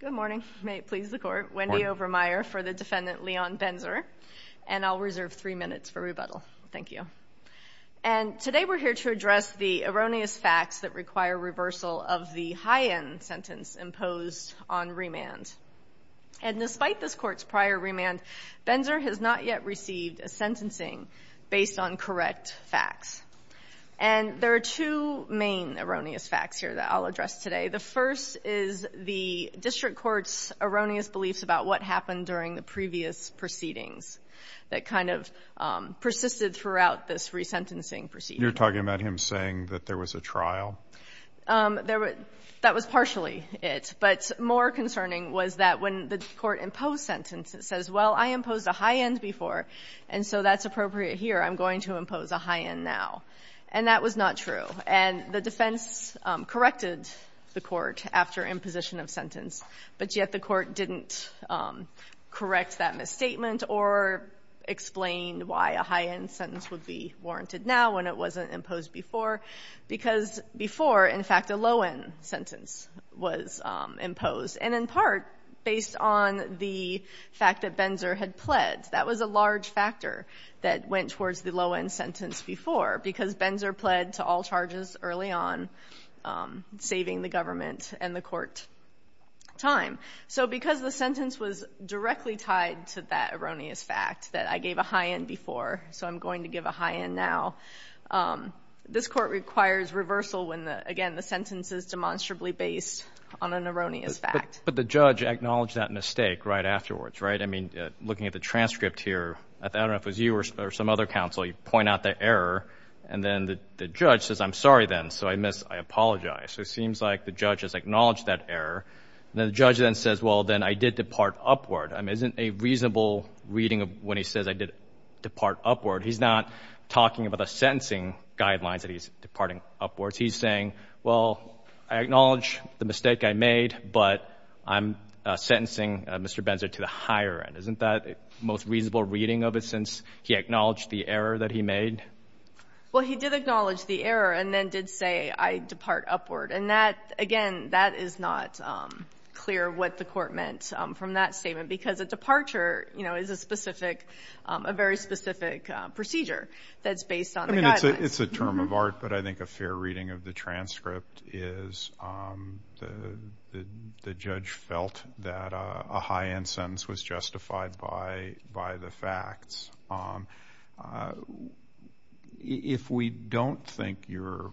Good morning. May it please the court. Wendy Overmeyer for the defendant Leon Benzer and I'll reserve three minutes for rebuttal. Thank you. And today we're here to address the erroneous facts that require reversal of the high-end sentence imposed on remand. And despite this court's prior remand, Benzer has not yet received a sentencing based on correct facts. And there are two main concerns. The first is the district court's erroneous beliefs about what happened during the previous proceedings that kind of persisted throughout this resentencing proceedings. You're talking about him saying that there was a trial? There was – that was partially it. But more concerning was that when the court imposed sentences, it says, well, I imposed a high-end before, and so that's appropriate here. I'm going to impose a high-end now. And that was not true. And the defense corrected the court after imposition of sentence, but yet the court didn't correct that misstatement or explain why a high-end sentence would be warranted now when it wasn't imposed before, because before, in fact, a low-end sentence was imposed. And in part, based on the fact that Benzer had pled, that was a large factor that went towards the low-end sentence before, because Benzer pled to all charges early on, saving the government and the court time. So because the sentence was directly tied to that erroneous fact that I gave a high-end before, so I'm going to give a high-end now, this court requires reversal when, again, the sentence is demonstrably based on an erroneous fact. But the judge acknowledged that mistake right afterwards, right? I mean, looking at the transcript here, I don't know if it was you or some other counsel, you point out the error, and then the judge says, I'm sorry then, so I apologize. So it seems like the judge has acknowledged that error, and then the judge then says, well, then I did depart upward. I mean, isn't a reasonable reading of when he says, I did depart upward, he's not talking about the sentencing guidelines that he's departing upwards. He's saying, well, I acknowledge the mistake I made, but I'm sentencing Mr. Benzer to the higher end. Isn't that the most reasonable reading of it since he acknowledged the error he made? Well, he did acknowledge the error and then did say, I depart upward. And that, again, that is not clear what the Court meant from that statement, because a departure, you know, is a specific, a very specific procedure that's based on the guidelines. I mean, it's a term of art, but I think a fair reading of the transcript is the judge felt that a high-end sentence was justified by the facts. If we don't think your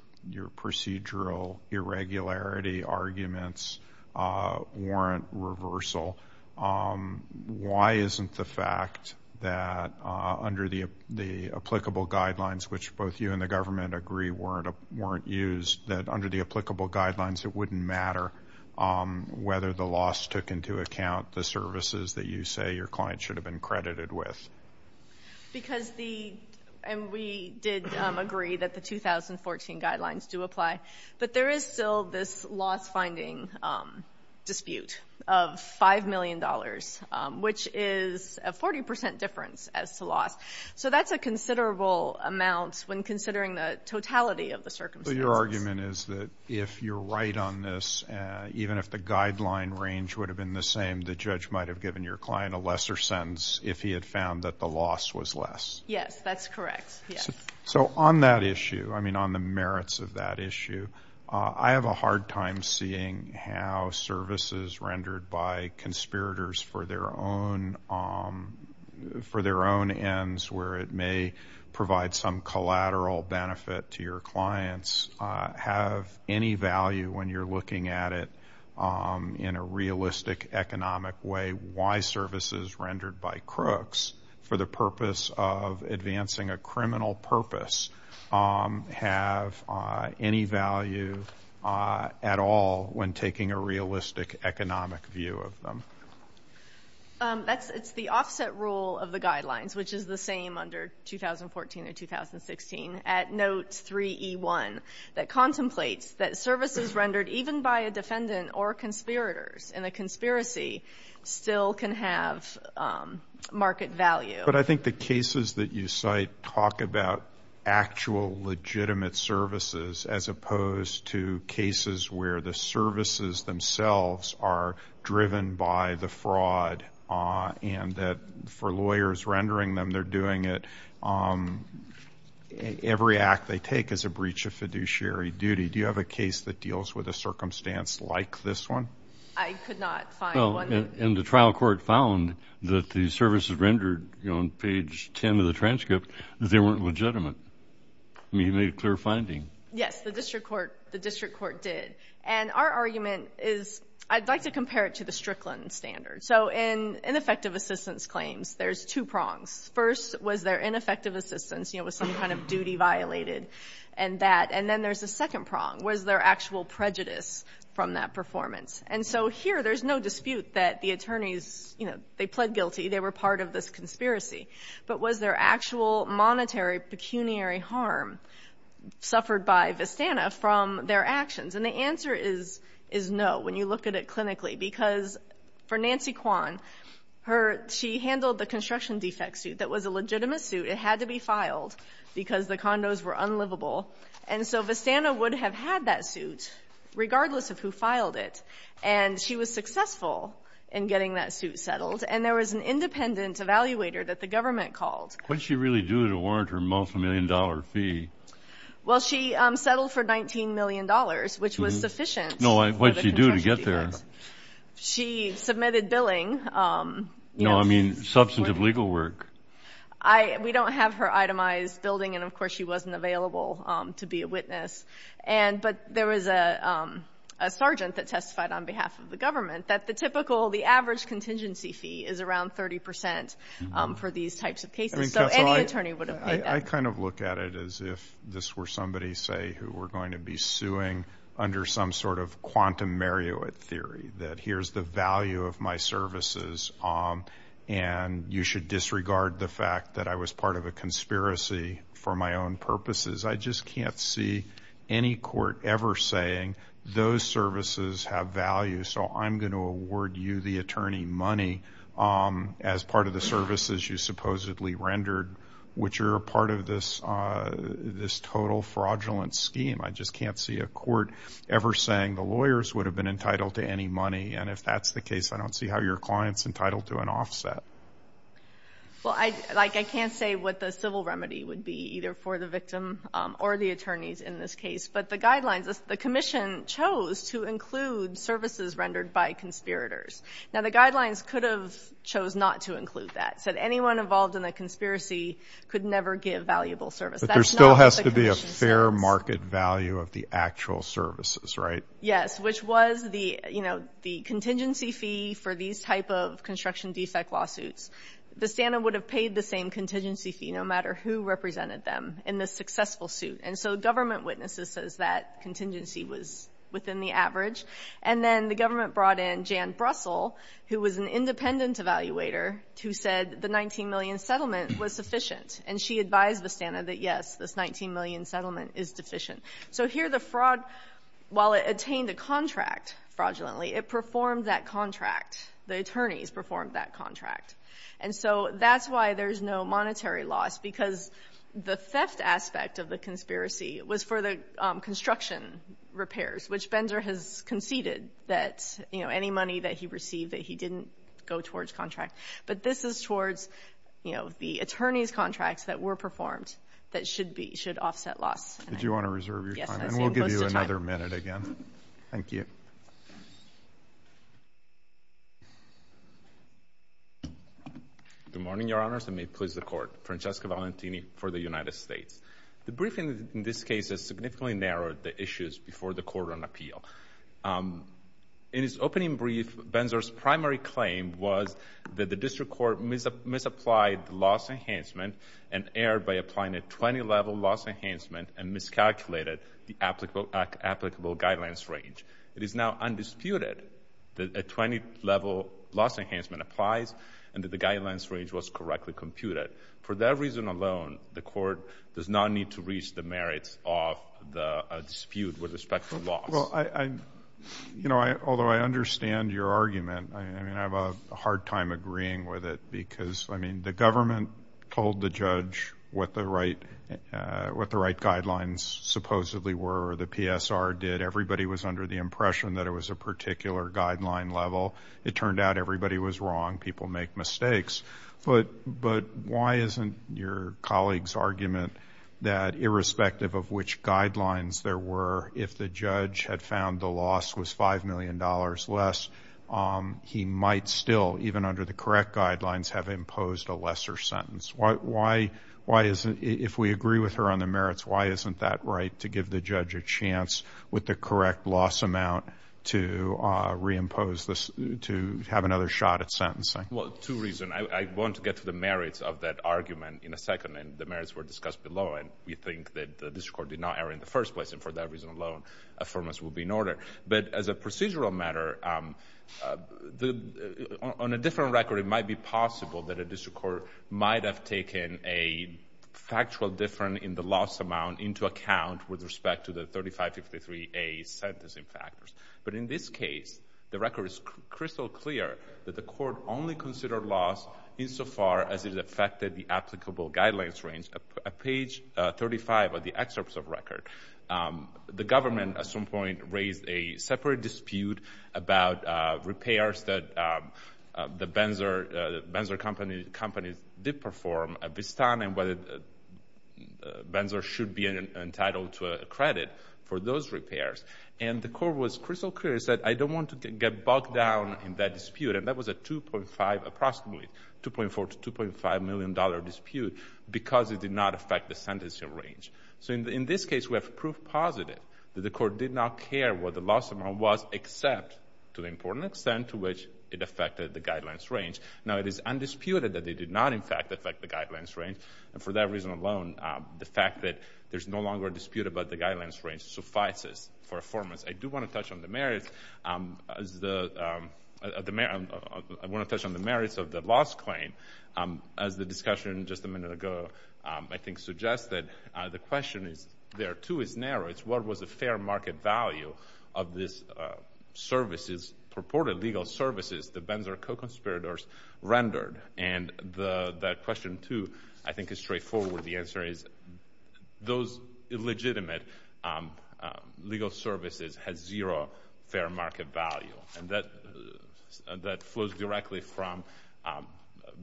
procedural irregularity arguments warrant reversal, why isn't the fact that under the applicable guidelines, which both you and the government agree weren't used, that under the applicable guidelines, it wouldn't matter whether the loss took into account the services that you say your client should have been credited with? Because the, and we did agree that the 2014 guidelines do apply, but there is still this loss-finding dispute of $5 million, which is a 40% difference as to loss. So that's a considerable amount when considering the totality of the circumstances. So your argument is that if you're right on this, even if the guideline range would have been the same, the judge might have given your client a lesser sentence if he had found that the loss was less? Yes, that's correct. Yes. So on that issue, I mean, on the merits of that issue, I have a hard time seeing how services rendered by conspirators for their own ends, where it may provide some collateral benefit to your clients, have any value when you're looking at it in a realistic economic way. Why services rendered by crooks for the purpose of advancing a criminal purpose have any value at all when taking a realistic economic view of them? That's the offset rule of the guidelines, which is the same under 2014 and 2016, at note 3E1, that contemplates that services rendered even by a defendant or conspirators in a conspiracy still can have market value. But I think the cases that you cite talk about actual legitimate services as opposed to cases where the services themselves are driven by the fraud and that for lawyers rendering them, they're doing it. Every act they take is a breach of fiduciary duty. Do you have a case that deals with a circumstance like this one? I could not find one. And the trial court found that the services rendered on page 10 of the transcript, they weren't legitimate. I mean, you made a clear finding. Yes, the district court did. And our argument is I'd like to compare it to the Strickland standard. So in ineffective assistance claims, there's two prongs. First, was there ineffective assistance, you know, was some kind of duty violated and that? And then there's a second prong. Was there actual prejudice from that performance? And so here, there's no dispute that the attorneys, you know, they pled guilty, they were part of this conspiracy. But was there actual monetary pecuniary harm suffered by Vistana from their actions? And the answer is no when you look at it clinically. Because for Nancy Kwan, she handled the construction defect suit that was a legitimate suit. It had to be filed because the condos were unlivable. And so Vistana would have had that suit regardless of who filed it. And she was successful in what the government called. What did she really do to warrant her multi-million dollar fee? Well, she settled for $19 million, which was sufficient. What did she do to get there? She submitted billing. No, I mean, substantive legal work. We don't have her itemized building and of course she wasn't available to be a witness. But there was a sergeant that testified on behalf of the government that the typical, the average contingency fee is around 30% for these types of cases. So any attorney would have paid that. I kind of look at it as if this were somebody, say, who were going to be suing under some sort of quantum Marriott theory. That here's the value of my services and you should disregard the fact that I was part of a conspiracy for my own purposes. I just can't see any court ever saying those services have value, so I'm going to award you the attorney money as part of the services you supposedly rendered, which are a part of this total fraudulent scheme. I just can't see a court ever saying the lawyers would have been entitled to any money. And if that's the case, I don't see how your client's entitled to an offset. Well, I can't say what the civil remedy would be, either for the victim or the attorneys in this case. But the guidelines, the commission chose to include services rendered by conspirators. Now the guidelines could have chose not to include that, said anyone involved in a conspiracy could never give valuable service. But there still has to be a fair market value of the actual services, right? Yes, which was the, you know, the contingency fee for these type of construction defect lawsuits. The standard would have paid the same contingency fee, no matter who represented them, in the successful suit. And so government witnesses says that contingency was within the average. And then the government brought in Jan Brussel, who was an independent evaluator, who said the 19 million settlement was sufficient. And she advised Vistana that, yes, this 19 million settlement is deficient. So here the fraud, while it attained a contract fraudulently, it performed that contract. The attorneys performed that contract. And so that's why there's no monetary loss, because the theft aspect of the conspiracy was for the construction repairs, which Bender has conceded that, you know, any money that he received that he didn't go towards contract. But this is towards, you know, the attorney's contracts that were performed that should be, should offset loss. Did you want to reserve your time? Yes. And we'll give you another minute again. Thank you. Good morning, Your Honors, and may it please the Court. Francesco Valentini for the United States. The briefing in this case has significantly narrowed the issues before the court on appeal. In its opening brief, Benzer's primary claim was that the district court misapplied the loss enhancement and erred by applying a 20-level loss enhancement and miscalculated the applicable guidelines range. It is now undisputed that a 20-level loss enhancement applies and that the guidelines range was correctly computed. For that reason alone, the court does not need to reach the merits of the dispute with respect to loss. Well, I, you know, although I understand your argument, I mean, I have a hard time agreeing with it because, I mean, the government told the judge what the right guidelines supposedly were or the PSR did. Everybody was under the impression that it was a particular guideline level. It turned out everybody was wrong. People make mistakes. But why isn't your colleague's argument that irrespective of which guidelines there were, if the judge had found the loss was $5 million less, he might still, even under the correct guidelines, have imposed a lesser sentence? Why is it, if we agree with her on the merits, why isn't that right to give the judge a chance with the correct loss amount to reimpose this, to have another shot at sentencing? Well, two reasons. I want to get to the merits of that argument in a second, and the merits were discussed below. And we think that the district court did not error in the first place. And for that reason alone, affirmance will be in order. But as a procedural matter, on a different record, it might be possible that a district court might have taken a factual difference in the loss amount into account with respect to the 3553A sentencing factors. But in this case, the record is crystal clear that the court only considered loss insofar as it affected the applicable guidelines range. At page 35 of the excerpts of record, the government at some point did perform a vistan and whether Benzor should be entitled to a credit for those repairs. And the court was crystal clear and said, I don't want to get bogged down in that dispute. And that was a 2.5, approximately, 2.4 to 2.5 million dollar dispute because it did not affect the sentencing range. So in this case, we have proof positive that the court did not care what the loss amount was, except to the important extent to which it affected the guidelines range. Now, it is disputed that they did not, in fact, affect the guidelines range. And for that reason alone, the fact that there's no longer a dispute about the guidelines range suffices for a foreman. I do want to touch on the merits of the loss claim. As the discussion just a minute ago, I think, suggested, the question there, too, is narrow. It's what was the fair market value of these services, purported legal services, the Benzor co-conspirators rendered? And that question, too, I think is straightforward. The answer is those illegitimate legal services had zero fair market value. And that flows directly from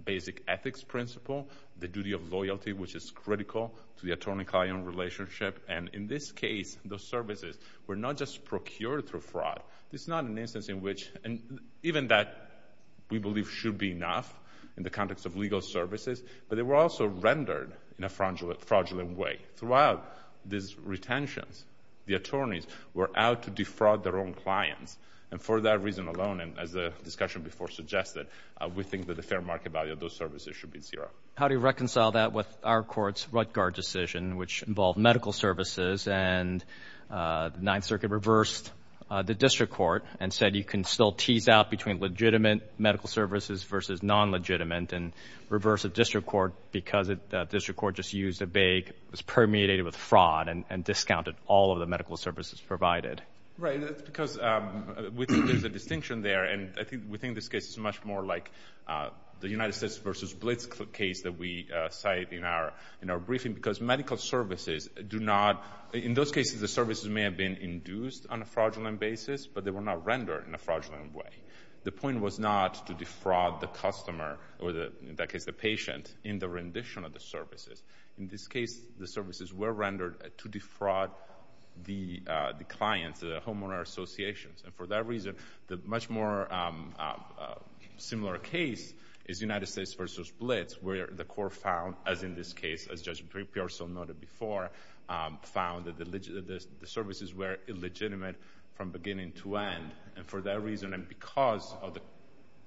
basic ethics principle, the duty of loyalty, which is critical to the attorney-client relationship. And in this case, those services were not just procured through fraud. It's not an exception, given that we believe should be enough in the context of legal services. But they were also rendered in a fraudulent way. Throughout these retentions, the attorneys were out to defraud their own clients. And for that reason alone, and as the discussion before suggested, we think that the fair market value of those services should be zero. How do you reconcile that with our Court's Ruttgard decision, which involved medical services, and the Ninth Circuit reversed the district court and said you can still tease out between legitimate medical services versus non-legitimate and reversed the district court because the district court just used a bag, was permeated with fraud, and discounted all of the medical services provided? Right. That's because we think there's a distinction there. And I think we think this case is much more like the United States versus Blitz case that we cite in our briefing. Because medical services do not—in those cases, the services may have been induced on a fraudulent basis, but they were not rendered in a fraudulent way. The point was not to defraud the customer, or in that case the patient, in the rendition of the services. In this case, the services were rendered to defraud the clients, the homeowner associations. And for that reason, the much more similar case is United States versus Blitz, where the Court found, as in this case before, found that the services were illegitimate from beginning to end. And for that reason, and because of the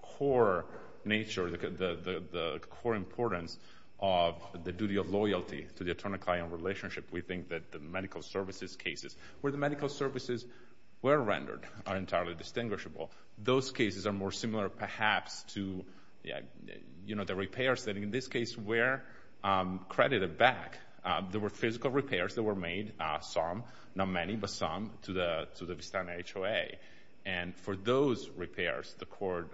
core nature, the core importance of the duty of loyalty to the attorney-client relationship, we think that the medical services cases, where the medical services were rendered, are entirely distinguishable. Those cases are more similar, perhaps, to the repairs that in this case were credited back. There were physical repairs that were made, some, not many, but some, to the Vistana HOA. And for those repairs, the Court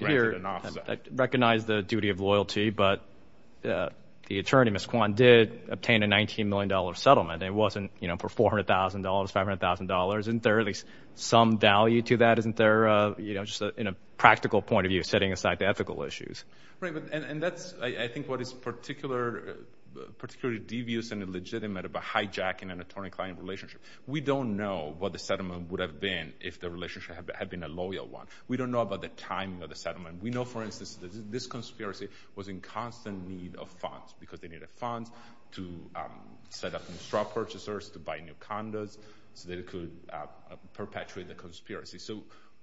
rendered an offset. I recognize the duty of loyalty, but the attorney, Ms. Kwan, did obtain a $19 million settlement. It wasn't for $400,000, $500,000. Isn't there at least some value to that? Isn't there, just in a practical point of view, setting aside the ethical issues? Right. And that's, I think, what is particularly devious and illegitimate about hijacking an attorney-client relationship. We don't know what the settlement would have been if the relationship had been a loyal one. We don't know about the timing of the settlement. We know, for instance, that this conspiracy was in constant need of funds, because they needed funds to set up new straw purchasers, to buy new condos, so that it could perpetuate the conspiracy. So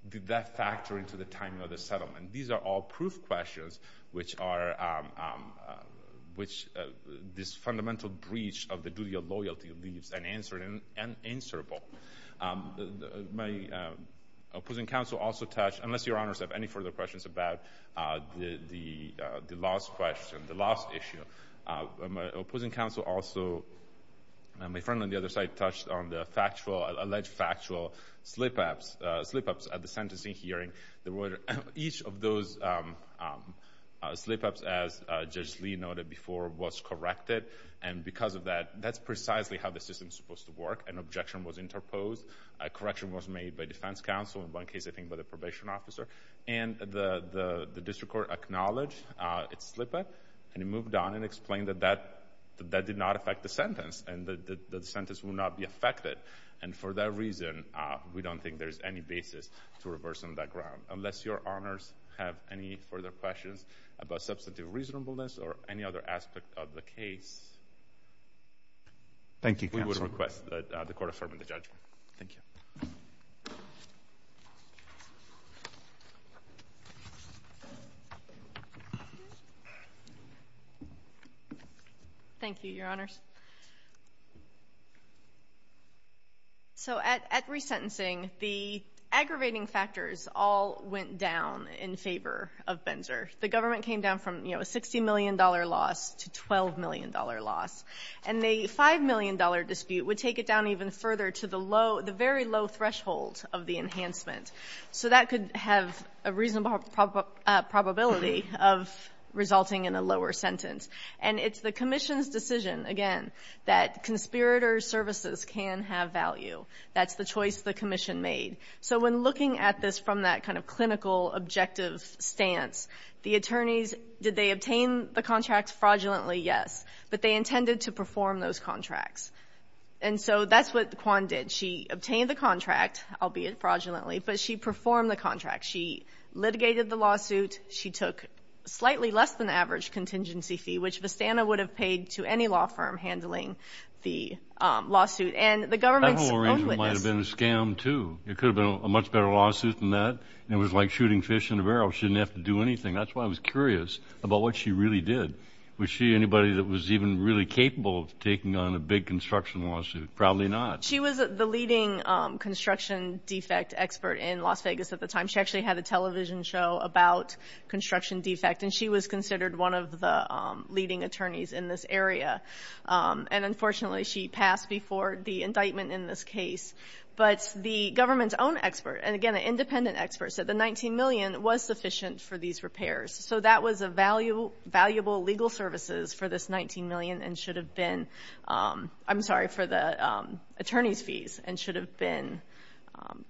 did that factor into the which this fundamental breach of the duty of loyalty leaves unanswered and unanswerable. My opposing counsel also touched, unless Your Honors have any further questions about the last question, the last issue, my opposing counsel also, and my friend on the other side, touched on the alleged factual slip-ups at the court. Slip-ups, as Judge Lee noted before, was corrected. And because of that, that's precisely how the system is supposed to work. An objection was interposed. A correction was made by defense counsel, in one case, I think, by the probation officer. And the district court acknowledged its slip-up, and it moved on and explained that that did not affect the sentence, and that the sentence will not be affected. And for that reason, we don't think there's any to reverse on that ground. Unless Your Honors have any further questions about substantive reasonableness or any other aspect of the case, we would request that the court affirm the judgment. Thank you. Thank you, Your Honors. So at resentencing, the aggravating factors all went down in favor of Benzer. The government came down from, you know, a $60 million loss to $12 million loss. And the $5 million dispute would take it down even further to the low, the very low threshold of the enhancement. So that could have a reasonable probability of resulting in a lower sentence. And it's the commission's decision, again, that conspirator services can have value. That's the choice the commission made. So when looking at this from that kind of clinical, objective stance, the attorneys, did they obtain the contracts fraudulently? Yes. But they intended to perform those contracts. And so that's what Quan did. She obtained the contract, albeit fraudulently, but she performed the contract. She litigated the lawsuit. She took slightly less than the average contingency fee, which Vistana would have paid to any law firm handling the lawsuit. And the government's own witnesses — That whole arrangement might have been a scam, too. It could have been a much better lawsuit than that. And it was like shooting fish in a barrel. She didn't have to do anything. That's why I was curious about what she really did. Was she anybody that was even really capable of taking on a big construction lawsuit? Probably not. She was the leading construction defect expert in Las Vegas at the time. She actually had a television show about construction defect, and she was considered one of the leading attorneys in this area. And unfortunately, she passed before the indictment in this case. But the government's own expert, and again, an independent expert, said the $19 million was sufficient for these repairs. So that was a valuable legal services for this $19 million and should have been — I'm sorry, for the attorneys' fees and should have been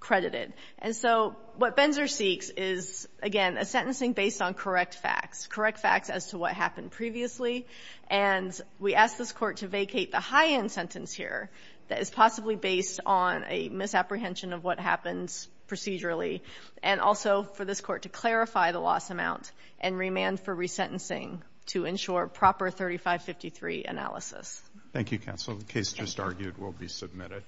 credited. And so what Benzer seeks is, again, a sentencing based on correct facts, correct facts as to what happened previously. And we ask this Court to vacate the high-end sentence here that is possibly based on a misapprehension of what happens procedurally, and also for this Court to clarify the loss amount and remand for ensure proper 3553 analysis. Thank you, counsel. The case just argued will be submitted.